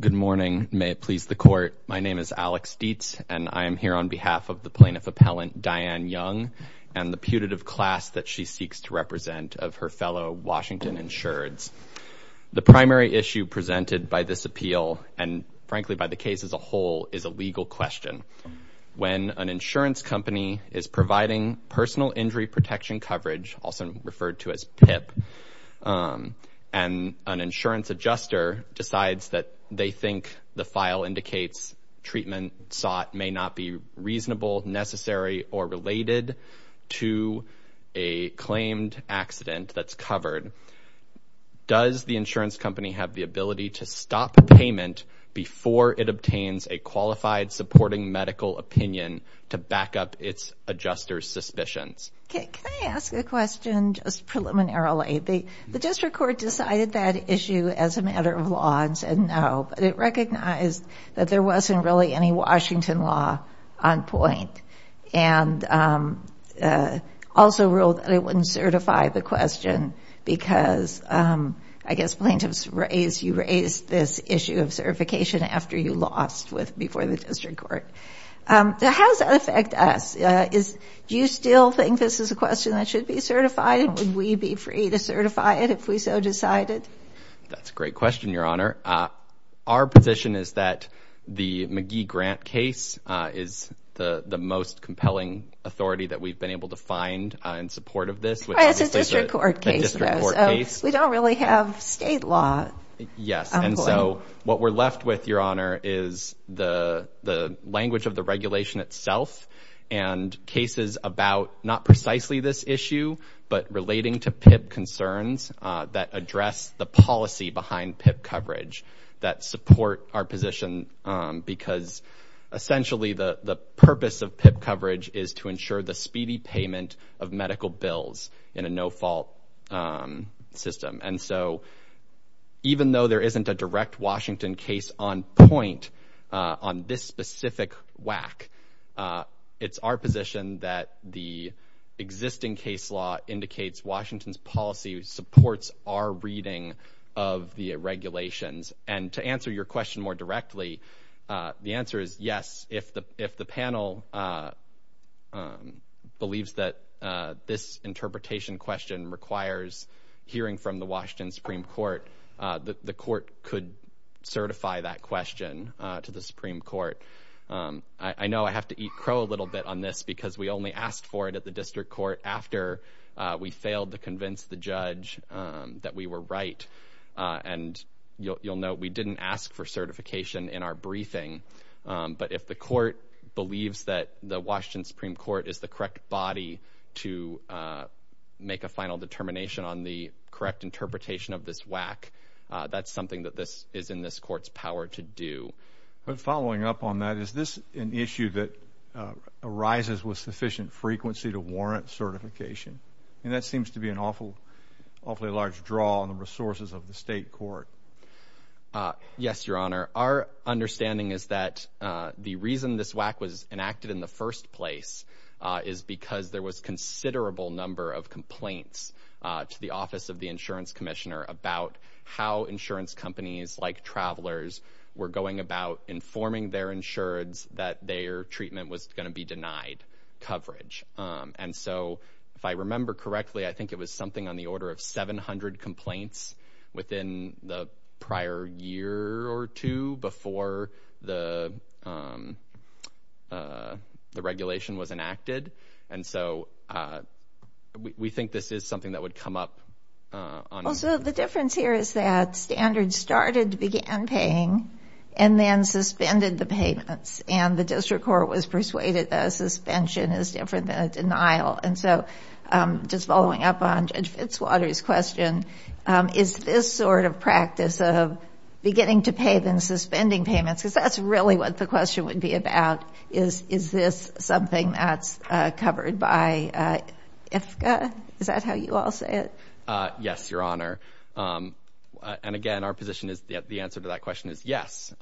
Good morning. May it please the Court, my name is Alex Dietz, and I am here on behalf of the Plaintiff Appellant Diane Young and the putative class that she seeks to represent of her fellow Washington insureds. The primary issue presented by this appeal, and frankly by the case as a whole, is a legal question. When an insurance company is providing personal injury protection coverage, also referred to as PIP, and an insurance adjuster decides that they think the file indicates treatment sought may not be reasonable, necessary, or related to a claimed accident that's covered, does the insurance company have the ability to stop payment before it obtains a qualified supporting medical opinion to back up its adjuster's suspicions? Can I ask a question just preliminarily? The district court decided that issue as a matter of law and said no, but it recognized that there wasn't really any Washington law on point, and also ruled that it wouldn't certify the question because I guess plaintiffs raised, you raised this issue of certification after you lost before the district court. How does that affect us? Do you still think this is a question that should be certified, and would we be free to certify it if we so decided? That's a great question, Your Honor. Our position is that the McGee-Grant case is the most compelling authority that we've been able to find in support of this, which is the district court case. We don't really have state law on point. Yes, and so what we're left with, Your Honor, is the language of the regulation itself and cases about not precisely this issue, but relating to PIP concerns that address the policy behind PIP coverage that support our position because essentially the purpose of PIP coverage is to ensure the speedy payment of medical bills in a no-fault system, and so even though there isn't a direct Washington case on point on this specific whack, it's our position that the existing case law indicates Washington's policy supports our reading of the regulations, and to answer your question more directly, the answer is yes. If the panel believes that this interpretation question requires hearing from the Washington Supreme Court, the court could certify that question to the Supreme Court. I know I have to eat crow a little bit on this because we only asked for it at the district court after we failed to convince the judge that we were right, and you'll note we didn't ask for certification in our briefing, but if the court believes that the Washington Supreme Court is the correct body to make a final determination on the correct interpretation of this whack, that's something that this is in this court's power to do. But following up on that, is this an issue that arises with sufficient frequency to warrant certification? And that seems to be an awfully large draw on the resources of the state court. Yes, your honor. Our understanding is that the reason this whack was enacted in the first place is because there was considerable number of complaints to the office of the insurance commissioner about how insurance companies like travelers were going about informing their insureds that their treatment was going to be denied coverage. And so if I the prior year or two before the the regulation was enacted, and so we think this is something that would come up. Also, the difference here is that standards started to began paying and then suspended the payments, and the district court was persuaded that a suspension is different denial. And so just following up on Judge Fitzwater's question, is this sort of practice of beginning to pay then suspending payments? Because that's really what the question would be about. Is this something that's covered by IFCA? Is that how you all say it? Yes, your honor. And again, our position is that the answer to that question is yes.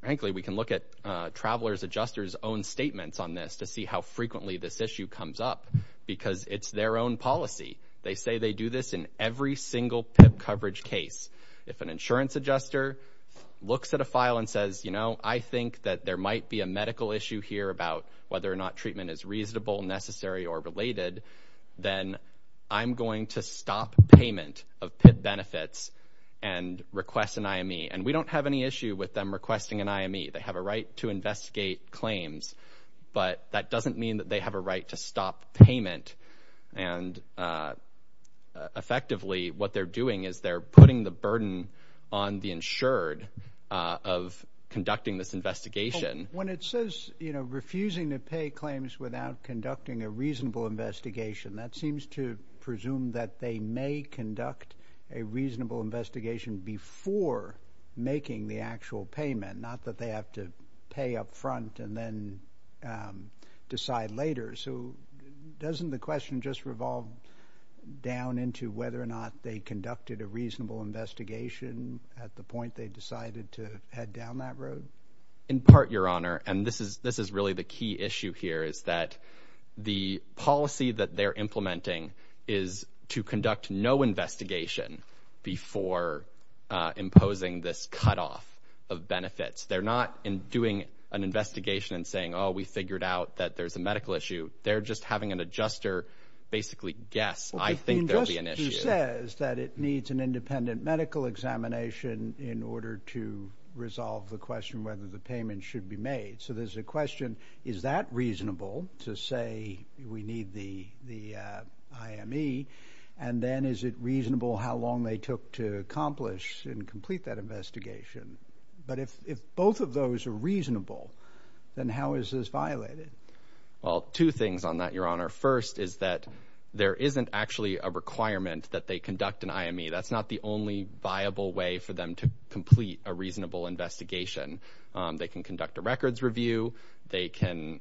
Frankly, we can look at to see how frequently this issue comes up because it's their own policy. They say they do this in every single coverage case. If an insurance adjuster looks at a file and says, you know, I think that there might be a medical issue here about whether or not treatment is reasonable, necessary or related, then I'm going to stop payment of benefits and request an I. M. E. And we don't have any issue with them requesting an I. M. E. They have a right to investigate claims, but that doesn't mean that they have a right to stop payment. And effectively, what they're doing is they're putting the burden on the insured of conducting this investigation. When it says, you know, refusing to pay claims without conducting a reasonable investigation, that seems to presume that they may conduct a reasonable investigation before making the actual and then decide later. So doesn't the question just revolve down into whether or not they conducted a reasonable investigation at the point they decided to head down that road? In part, your honor, and this is this is really the key issue here is that the policy that they're implementing is to conduct no investigation before imposing this cut off of benefits. They're not doing an investigation and saying, oh, we figured out that there's a medical issue. They're just having an adjuster basically guess. I think there'll be an issue that it needs an independent medical examination in order to resolve the question whether the payment should be made. So there's a question. Is that reasonable to say we need the the I. M. E. And then is it reasonable how long they took to accomplish and complete that investigation? But if if both of those are reasonable, then how is this violated? Well, two things on that, your honor. First is that there isn't actually a requirement that they conduct an I. M. E. That's not the only viable way for them to complete a reasonable investigation. They can conduct a records review. They can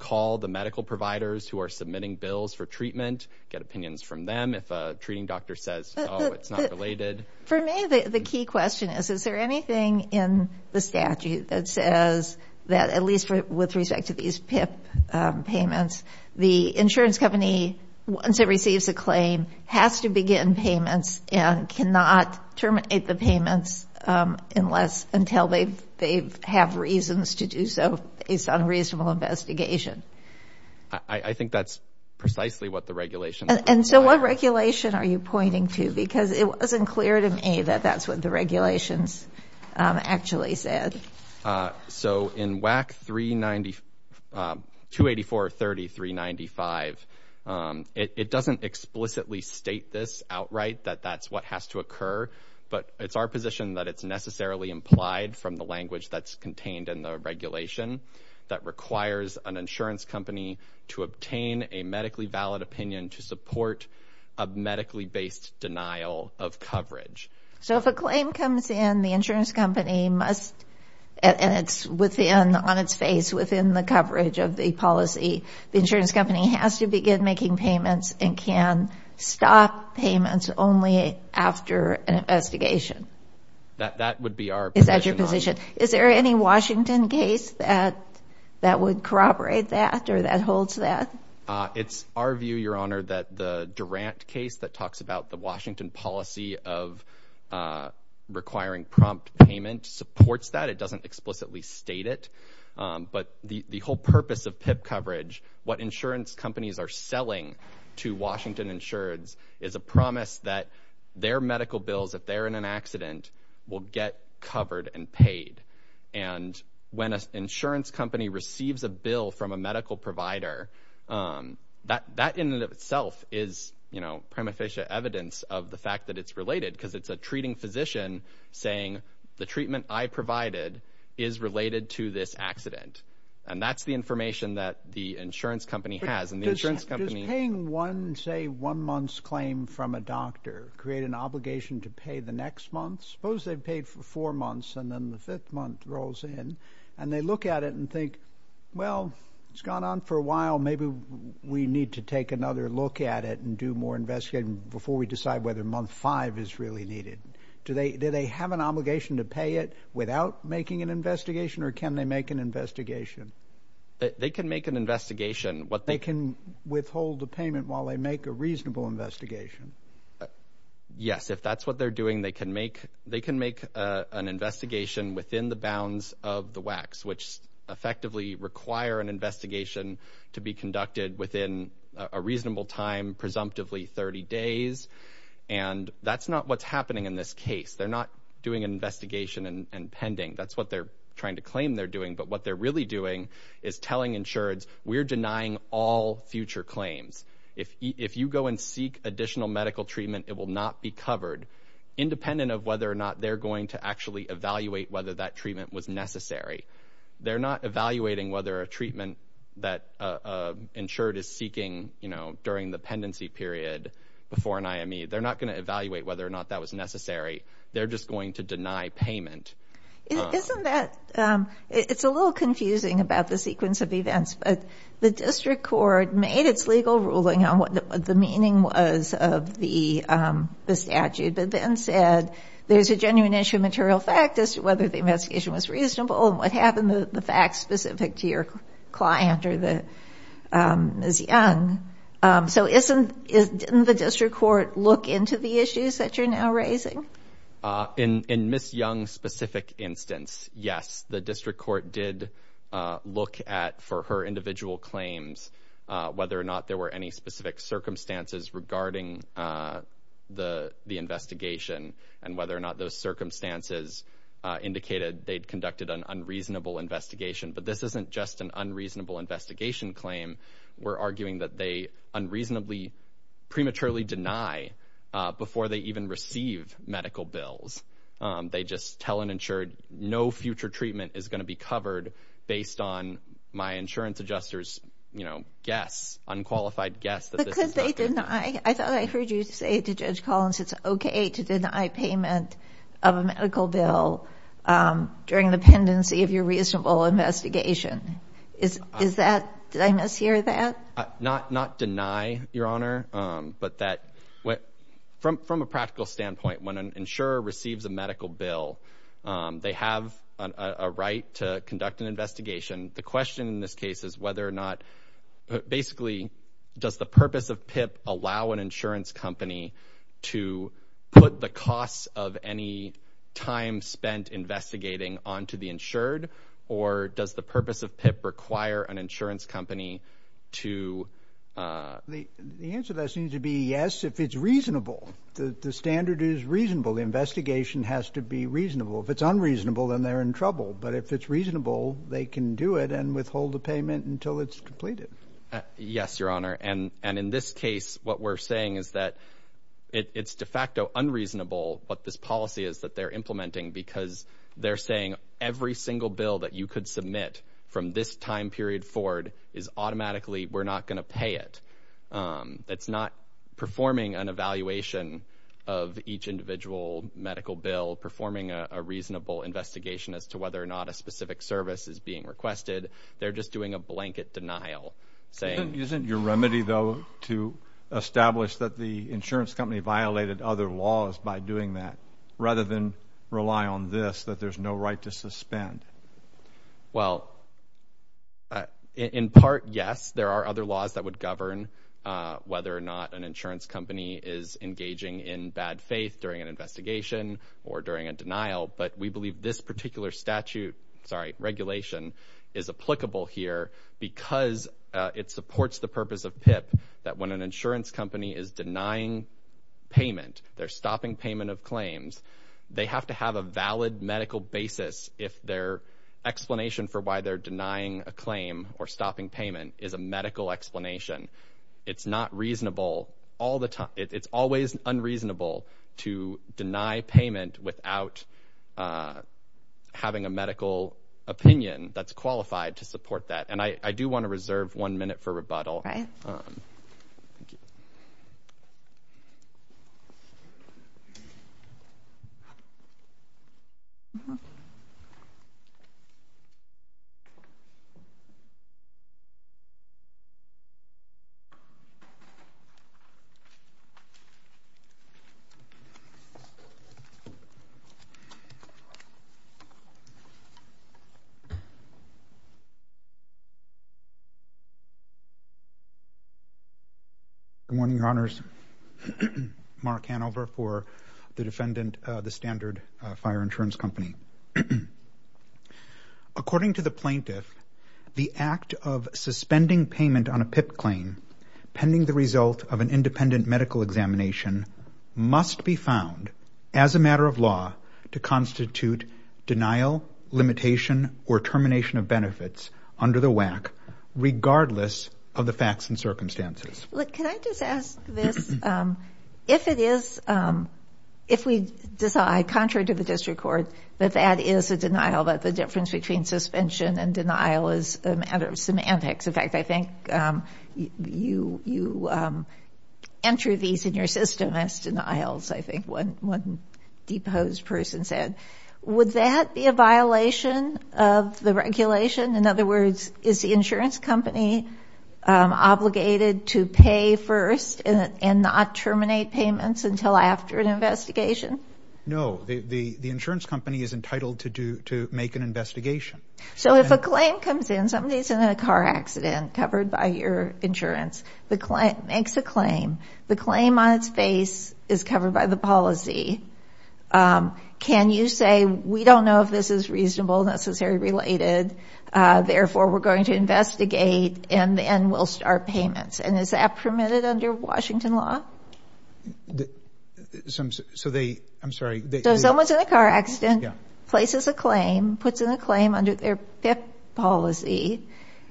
call the medical providers who are submitting bills for treatment, get opinions from them. If a treating doctor says it's not related. For me, the key question is, is there anything in the statute that says that at least with respect to these PIP payments, the insurance company, once it receives a claim, has to begin payments and cannot terminate the payments unless until they've they've have reasons to do so. It's unreasonable investigation. I think that's precisely what the regulations. And so what regulation are you pointing to? Because it wasn't clear to me that that's what the regulations actually said. So in WAC 390 284 30 395, it doesn't explicitly state this outright, that that's what has to occur. But it's our position that it's necessarily implied from the language that's contained in the regulation that requires an insurance company to obtain a medically valid opinion to support a medically based denial of coverage. So if a claim comes in, the insurance company must and it's within on its face within the coverage of the policy, the insurance company has to begin making payments and can stop payments only after an investigation. That would be our position. Is there any Washington case that that would corroborate that or that holds that it's our view, your honor, that the Durant case that talks about the Washington policy of requiring prompt payment supports that it doesn't explicitly state it. But the whole purpose of PIP coverage, what insurance companies are selling to Washington insureds is a promise that their medical bills, if they're in an accident, will get covered and paid. And when an insurance company receives a bill from a medical provider, that in and of itself is, you know, prima facie evidence of the fact that it's related because it's a treating physician saying the treatment I provided is related to this accident. And that's the information that the insurance company has. And the insurance company is paying one, say one month's claim from a doctor, create an obligation to pay the next month. Suppose they've paid for four months and then the fifth month rolls in and they look at it and think, well, it's gone on for a while. Maybe we need to take another look at it and do more investigating before we decide whether month five is really needed. Do they do they have an obligation to pay it without making an investigation or can they make an investigation? They can make an investigation. What they can withhold the payment while they make a reasonable investigation. Yes. If that's what they're doing, they can make they can make an investigation within the bounds of the wax, which effectively require an investigation to be conducted within a reasonable time, presumptively 30 days. And that's not what's happening in this case. They're not doing an investigation and pending. That's what they're trying to claim they're doing. But what they're really doing is telling insureds we're denying all future claims. If if you go and seek additional medical treatment, it will not be covered, independent of whether or not they're going to actually evaluate whether that treatment was necessary. They're not evaluating whether a treatment that insured is seeking, you know, during the pendency period before an IME, they're not going to evaluate whether or not that was necessary. They're just going to deny payment. Isn't that it's a little confusing about the sequence of events, but the district court made its legal ruling on what the meaning was of the statute, but then said there's a genuine issue of material fact as to whether the investigation was reasonable and what happened, the facts specific to your client or that Ms. Young. So isn't, didn't the district court look into the issues that you're now raising? In Ms. Young's specific instance, yes, the district court did look at for her individual claims whether or not there were any specific circumstances regarding the investigation and whether or not those circumstances indicated they'd conducted an unreasonable investigation. But this isn't just an unreasonable investigation claim. We're arguing that they unreasonably, prematurely deny before they even receive medical bills. They just tell an insured no future treatment is going to be covered based on my insurance adjuster's, you know, guess, unqualified guess. Because they deny, I thought I heard you say to Judge Collins, it's okay to deny payment of a medical bill during the pendency of your reasonable investigation. Is, is that, did I mishear that? Not, not deny your honor, but that what, from, from a practical standpoint, when an insurer receives a medical bill, they have a right to conduct an investigation. The question in this case is whether or not, basically, does the purpose of PIP allow an insurance company to put the costs of any time spent investigating onto the insured? Or does the purpose of PIP require an insurance company to? The, the answer to that seems to be yes, if it's reasonable. The, the standard is reasonable. The investigation has to be reasonable. If it's unreasonable, then they're in trouble. But if it's reasonable, they can do it and withhold the payment until it's completed. Yes, your honor. And, and in this case, what we're saying is that it's de facto unreasonable what this policy is that they're implementing because they're saying every single bill that you could submit from this time period forward is automatically, we're not going to pay it. It's not performing an evaluation of each individual medical bill, performing a reasonable investigation as to whether or not a specific service is being requested. They're just doing a blanket denial saying. Isn't your remedy, though, to establish that the insurance company violated other laws by doing that rather than rely on this, that there's no right to suspend? Well, in part, yes, there are other laws that would govern whether or not an insurance company is engaging in bad faith during an investigation or during a denial. But we believe this particular statute, sorry, regulation is applicable here because it supports the purpose of PIP, that when an insurance company is denying payment, they're stopping payment of claims. They have to have a valid medical basis if their explanation for why they're denying a claim or stopping payment is a medical explanation. It's not reasonable all the time. It's always unreasonable to deny payment without having a medical opinion that's qualified to support that. And I do want to reserve one minute for rebuttal. Good morning, Your Honors. Mark Hanover for the defendant, the Standard Fire Insurance Company. According to the plaintiff, the act of suspending payment on a PIP claim, pending the result of an independent medical examination, must be found as a matter of law to constitute denial, limitation, or termination of benefits under the WAC, regardless of the facts and circumstances. Look, can I just ask this? If it is, if we decide, contrary to the district court, that that is a denial, that the difference between suspension and denial is a matter of semantics. In fact, I think you enter these in your system as denials, I think one deposed person said. Would that be a violation of the regulation? In other words, is the insurance company obligated to pay first and not terminate payments until after an investigation? So if a claim comes in, somebody's in a car accident covered by your insurance, the client makes a claim, the claim on its face is covered by the policy. Can you say, we don't know if this is reasonable, necessary, related, therefore we're going to investigate and then we'll start payments? And is that permitted under Washington law? So they, I'm sorry. So someone's in a car accident, places a claim, puts in a claim under their PIP policy,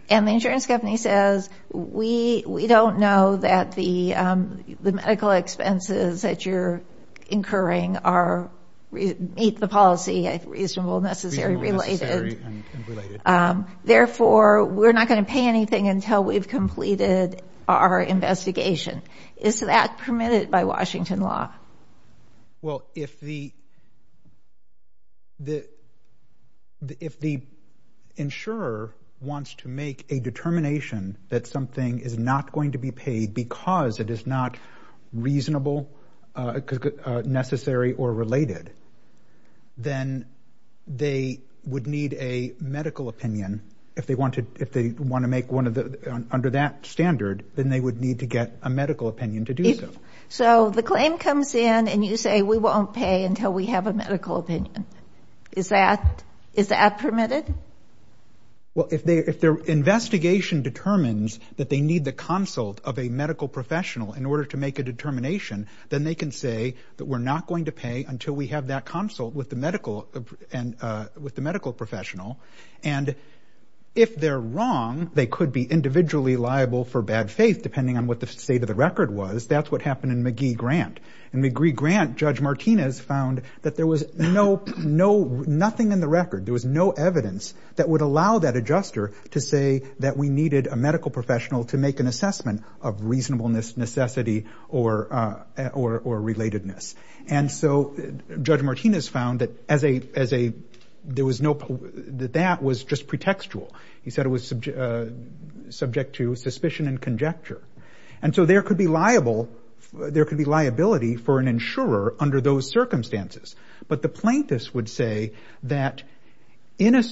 and the insurance company says, we don't know that the medical expenses that you're incurring are, meet the policy, reasonable, necessary, related. Therefore, we're not going to pay anything until we've completed our investigation. Is that permitted by Washington law? Well, if the insurer wants to make a determination that something is not going to be paid because it is not reasonable, necessary, or related, then they would need a medical opinion if they want to, if they want to make one of the, under that standard, then they would need to get a medical opinion to do so. So the claim comes in and you say, we won't pay until we have a medical opinion. Is that, is that permitted? Well, if they, if their investigation determines that they need the consult of a medical professional in order to make a determination, then they can say that we're not going to pay until we have that consult with the medical, with the medical professional. And if they're wrong, they could be individually liable for bad faith, depending on what the state of the record was. That's what happened in McGee-Grant. In McGee-Grant, Judge Martinez found that there was no, no, nothing in the record. There was no evidence that would allow that adjuster to say that we needed a medical professional to make an assessment of reasonableness, necessity, or, or, or relatedness. And so Judge Martinez found that as a, as a, there was no, that that was just pretextual. He said it was subject to suspicion and conjecture. And so there could be liable, there could be liability for an insurer under those circumstances. But the plaintiffs would say that in a,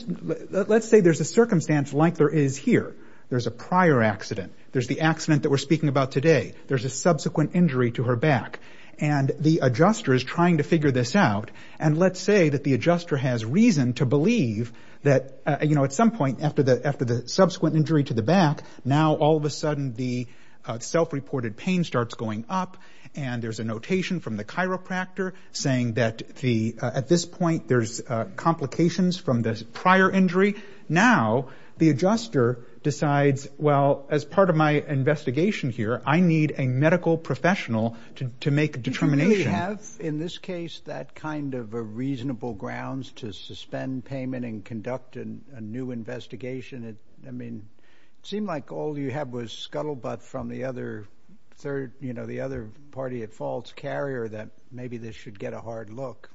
let's say there's a circumstance like there is here. There's a prior accident. There's the accident that we're speaking about today. There's a back injury to her back. And the adjuster is trying to figure this out. And let's say that the adjuster has reason to believe that, you know, at some point after the, after the subsequent injury to the back, now all of a sudden the self-reported pain starts going up. And there's a notation from the chiropractor saying that the, at this point there's complications from this prior injury. Now the adjuster decides, well, as part of my investigation here, I need a medical professional to, to make a determination. Do you really have, in this case, that kind of a reasonable grounds to suspend payment and conduct a new investigation? I mean, it seemed like all you had was scuttlebutt from the other third, you know, the other party at fault's carrier that maybe this should get a hard look.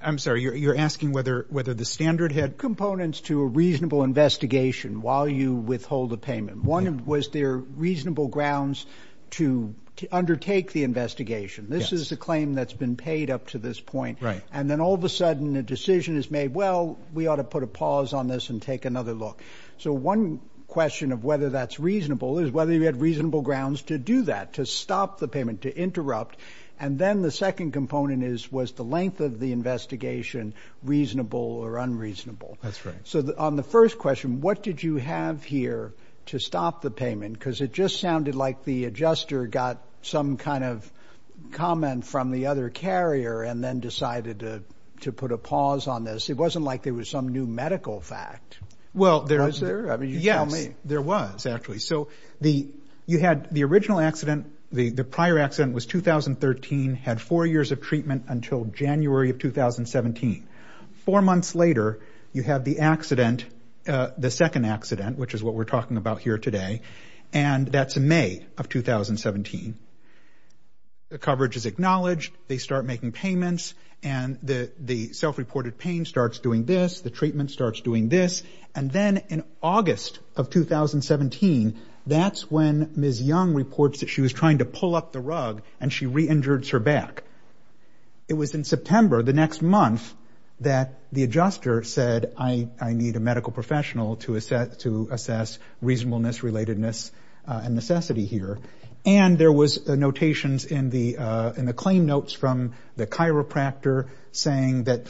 I'm sorry. You're, you're asking whether, whether the standard had components to a reasonable investigation while you withhold the payment. One was there reasonable grounds to undertake the investigation. This is a claim that's been paid up to this point. Right. And then all of a sudden a decision is made, well, we ought to put a pause on this and take another look. So one question of whether that's reasonable is whether you had reasonable grounds to do that, to stop the payment, to interrupt. And then the second component is, was the length of the investigation reasonable or unreasonable? That's right. So on the first question, what did you have here to stop the payment? Cause it just sounded like the adjuster got some kind of comment from the other carrier and then decided to, to put a pause on this. It wasn't like there was some new medical fact. Well, there is there. I mean, you tell me. Yes, you had the original accident. The prior accident was 2013, had four years of treatment until January of 2017. Four months later, you have the accident, the second accident, which is what we're talking about here today. And that's May of 2017. The coverage is acknowledged. They start making payments and the, the self-reported pain starts doing this. The treatment starts doing this. And then in August of 2017, that's when Ms. Young reports that she was trying to pull up the rug and she re-injured her back. It was in September, the next month that the adjuster said, I, I need a medical professional to assess, to assess reasonableness, relatedness and necessity here. And there was a notations in the, in the claim notes from the chiropractor saying that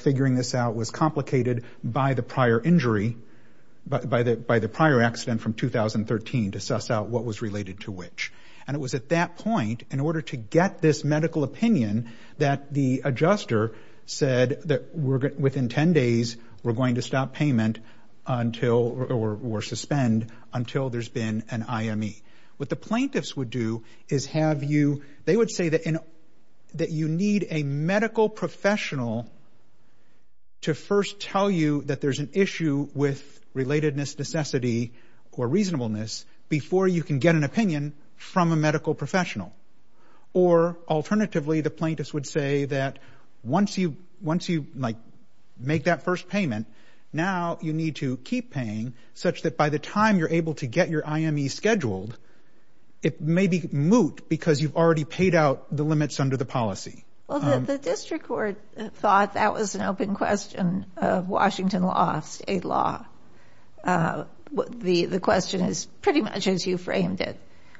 by the, by the prior accident from 2013 to suss out what was related to which. And it was at that point, in order to get this medical opinion, that the adjuster said that we're, within 10 days, we're going to stop payment until, or, or suspend until there's been an IME. What the plaintiffs would do is have you, they would say that in, that you need a medical professional to first tell you that there's an issue with relatedness, necessity or reasonableness before you can get an opinion from a medical professional. Or alternatively, the plaintiffs would say that once you, once you, like, make that first payment, now you need to keep paying such that by the time you're able to get your IME scheduled, it may be moot because you've already paid out the limits under the policy. Well, the district court thought that was an open question of Washington law, state law. The question is pretty much as you framed it,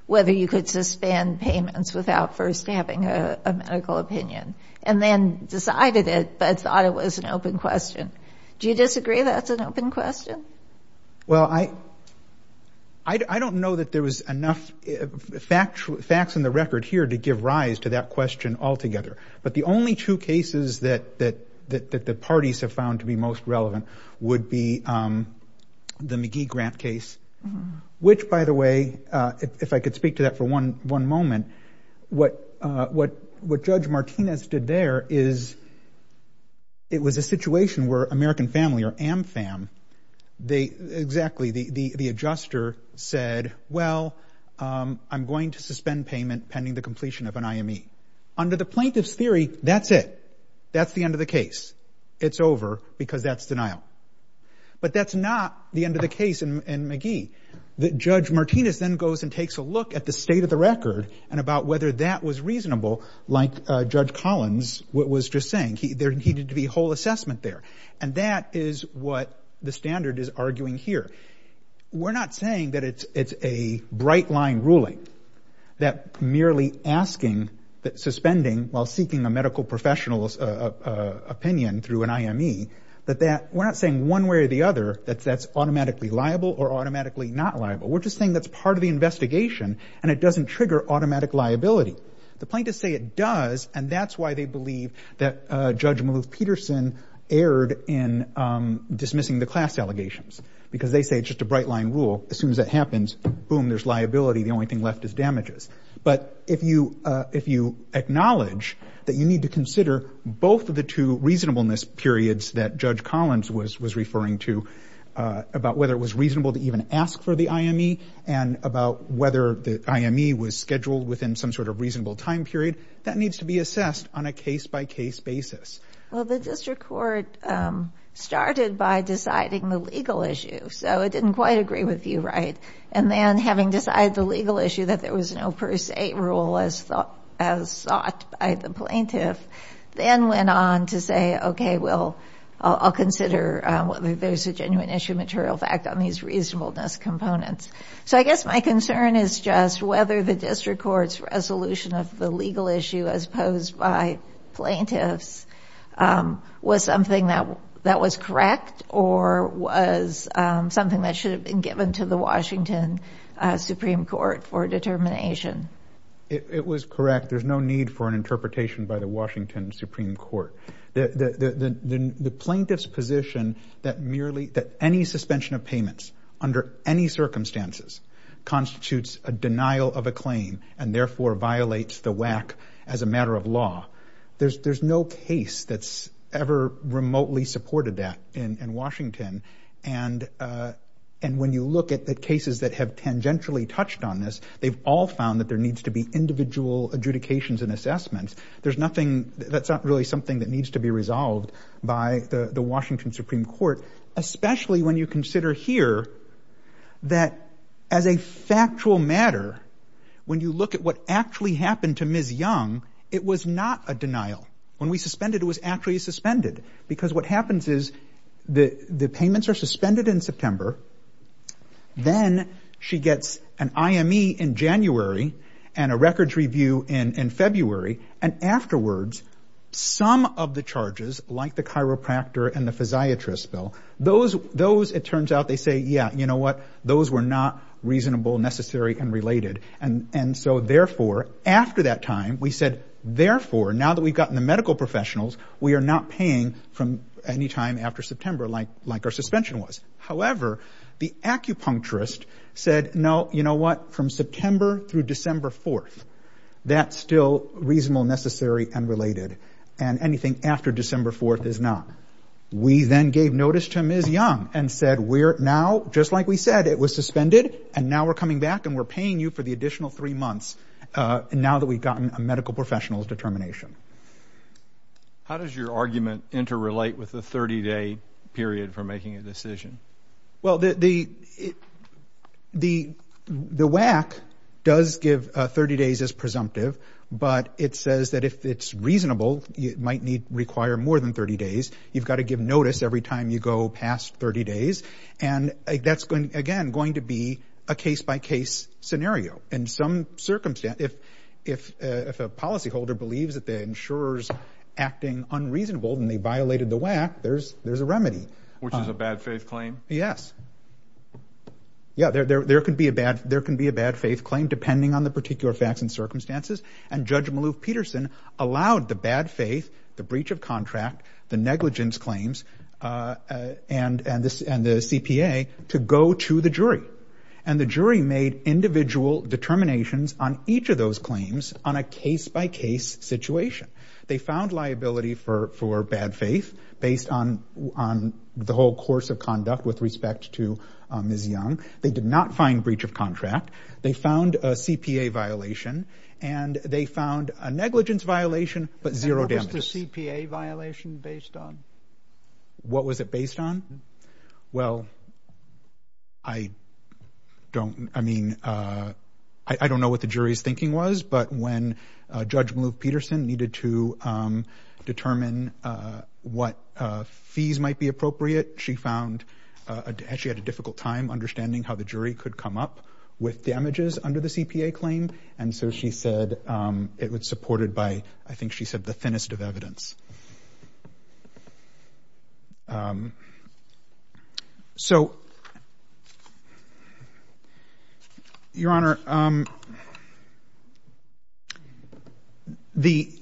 whether you could suspend payments without first having a medical opinion, and then decided it, but thought it was an open question. Do you disagree that's an open question? Well, I, I don't know that there was enough factual, facts in the record here to give rise to that question altogether. But the only two cases that, that, that, that the parties have found to be most relevant would be the McGee-Grant case, which by the way, if I could speak to that for one, one moment, what, what, what Judge Martinez did there is, it was a situation where American Family or AMFAM, they, exactly, the, the, the adjuster said, well, I'm going to suspend payment pending the completion of an IME. Under the plaintiff's theory, that's it. That's the end of the case. It's over because that's denial. But that's not the end of the case in, in McGee. Judge Martinez then goes and takes a look at the state of the record and about whether that was reasonable, like Judge Collins was just saying. He, there needed to be a whole assessment there. And that is what the standard is arguing here. We're not saying that it's, it's a bright line ruling that merely asking, that suspending while seeking a medical professional's opinion through an IME, that that, we're not saying one way or the other that that's automatically liable or automatically not liable. We're just saying that's part of the investigation and it doesn't trigger automatic liability. The plaintiffs say it does and that's why they believe that Judge Maloof erred in dismissing the class allegations, because they say it's just a bright line rule. As soon as that happens, boom, there's liability. The only thing left is damages. But if you, if you acknowledge that you need to consider both of the two reasonableness periods that Judge Collins was, was referring to about whether it was reasonable to even ask for the IME and about whether the IME was scheduled within some sort of reasonable time period, that needs to be assessed on a case by case basis. Well, the district court started by deciding the legal issue, so it didn't quite agree with you, right? And then having decided the legal issue that there was no per se rule as thought, as sought by the plaintiff, then went on to say, okay, well, I'll consider whether there's a genuine issue material fact on these reasonableness components. So I guess my concern is just whether the district court's resolution of the legal issue as posed by plaintiffs was something that, that was correct or was something that should have been given to the Washington Supreme Court for determination. It was correct. There's no need for an interpretation by the Washington Supreme Court. The plaintiff's position that merely, that any suspension of payments under any circumstances constitutes a denial of a claim and therefore violates the WAC as a matter of law. There's, there's no case that's ever remotely supported that in Washington. And when you look at the cases that have tangentially touched on this, they've all found that there needs to be individual adjudications and assessments. There's nothing, that's not really something that needs to be resolved by the Washington Supreme Court, especially when you consider here that as a factual matter, when you look at what actually happened to Ms. Young, it was not a denial. When we suspended, it was actually suspended because what happens is the, the payments are suspended in September. Then she gets an IME in January and a records review in, in February. And afterwards, some of the charges like the psychiatrist bill, those, those, it turns out they say, yeah, you know what, those were not reasonable, necessary, and related. And, and so therefore, after that time, we said, therefore, now that we've gotten the medical professionals, we are not paying from any time after September, like, like our suspension was. However, the acupuncturist said, no, you know what, from September through December 4th, that's still reasonable, necessary, and related. And anything after December 4th is not. We then gave notice to Ms. Young and said, we're now, just like we said, it was suspended, and now we're coming back, and we're paying you for the additional three months, now that we've gotten a medical professional's determination. How does your argument interrelate with the 30-day period for making a decision? Well, the, the, the, the WAC does give 30 days as presumptive, but it says that if it's reasonable, you might need, require more than 30 days. You've got to give notice every time you go past 30 days, and that's going, again, going to be a case-by-case scenario. In some circumstance, if, if, if a policyholder believes that the insurer's acting unreasonable and they violated the WAC, there's, there's a remedy. Which is a bad faith claim? Yes. Yeah, there, there, there could be a bad, there can be a bad faith claim, depending on the particular facts and circumstances, and Judge Maloof-Peterson allowed the bad faith, the breach of contract, the negligence claims, and, and the CPA to go to the jury. And the jury made individual determinations on each of those claims on a case-by-case situation. They found liability for, for bad faith, based on, on the whole course of conduct with respect to Ms. Young. They did not find breach of contract. They found a CPA violation, and they found a negligence violation, but zero damages. And what was the CPA violation based on? What was it based on? Well, I don't, I mean, I, I don't know what the jury's thinking was, but when Judge Maloof-Peterson needed to determine what fees might be appropriate, she found, she had a difficult time understanding how the jury could come up with damages under the CPA claim, and so she said it was supported by, I think she said, the thinnest of evidence. So, Your Honor, um, the,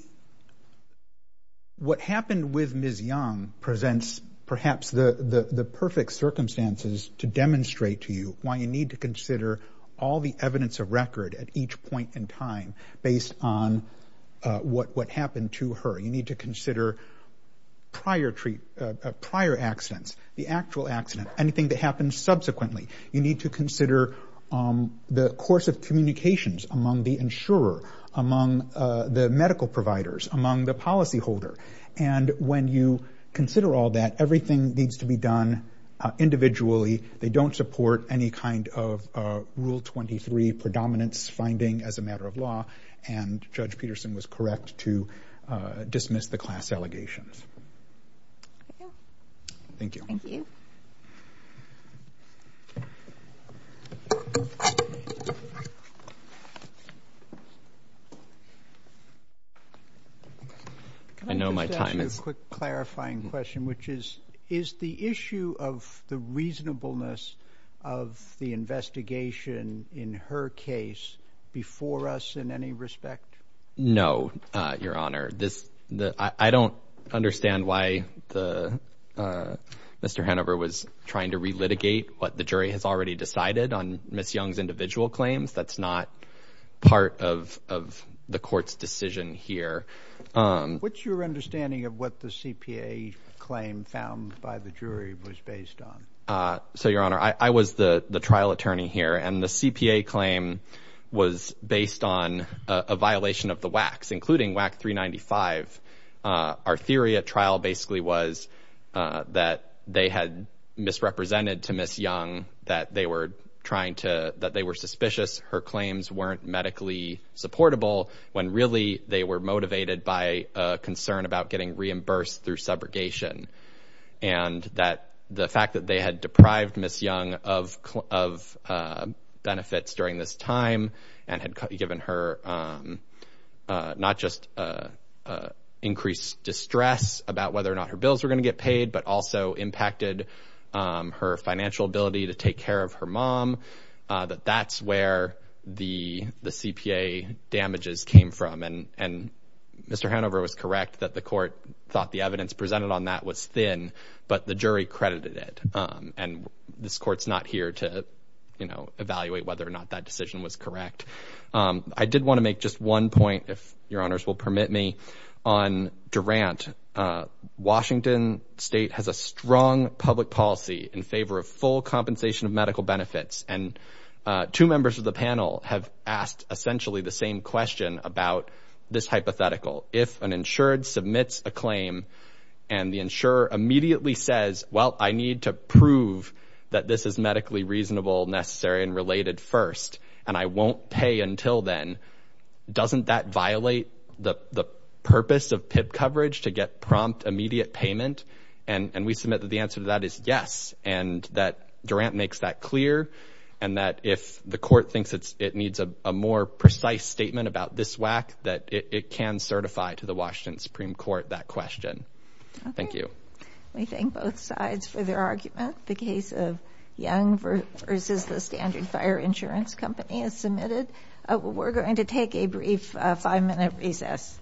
what happened with Ms. Young presents perhaps the, the, the perfect circumstances to demonstrate to you why you need to consider all the evidence of record at each point in time based on, uh, what, what happened to her. You need to consider prior treat, uh, prior accidents, the actual accident, anything that happens subsequently. You need to consider, um, the course of communications among the insurer, among, uh, the medical providers, among the policy holder. And when you consider all that, everything needs to be done, uh, individually. They don't support any kind of, uh, Rule 23 predominance finding as a matter of law, and Judge Peterson was correct to, uh, dismiss the class allegations. Okay. Thank you. Thank you. Can I just ask you a quick clarifying question, which is, is the issue of the reasonableness of the investigation in her case before us in any respect? No, uh, Your Honor, this, the, I, I don't understand why the, uh, Mr. Hanover was trying to relitigate what the jury has already decided on Ms. Young's individual claims. That's not part of, of the court's decision here. Um, what's your understanding of what the CPA claim found by the jury was based on? Uh, so Your Honor, I, I was the trial attorney here and the CPA claim was based on a violation of the WACs, including WAC 395. Uh, our theory at trial basically was, uh, that they had misrepresented to Ms. Young, that they were trying to, that they were suspicious her claims weren't medically supportable when really they were motivated by a concern about getting reimbursed through subrogation. And that the fact that they had deprived Ms. Young of, of, uh, benefits during this time and had given her, um, uh, not just, uh, uh, increased distress about whether or not her bills were going to get paid, but also impacted, um, her financial ability to take care of her mom, uh, that that's where the, the CPA damages came from. And, and Mr. Hanover was that the court thought the evidence presented on that was thin, but the jury credited it. Um, and this court's not here to, you know, evaluate whether or not that decision was correct. Um, I did want to make just one point, if Your Honors will permit me, on Durant. Uh, Washington State has a strong public policy in favor of full compensation of medical benefits. And, uh, two members of the panel have asked essentially the same question about this hypothetical. If an insured submits a claim and the insurer immediately says, well, I need to prove that this is medically reasonable, necessary, and related first, and I won't pay until then, doesn't that violate the, the purpose of PIP coverage to get prompt immediate payment? And, and we submit that the answer to that is yes. And that Durant makes that clear. And that if the court thinks it's, a more precise statement about this WAC that it can certify to the Washington Supreme Court that question. Thank you. We thank both sides for their argument. The case of Young versus the Standard Fire Insurance Company is submitted. Uh, we're going to take a brief five minute recess.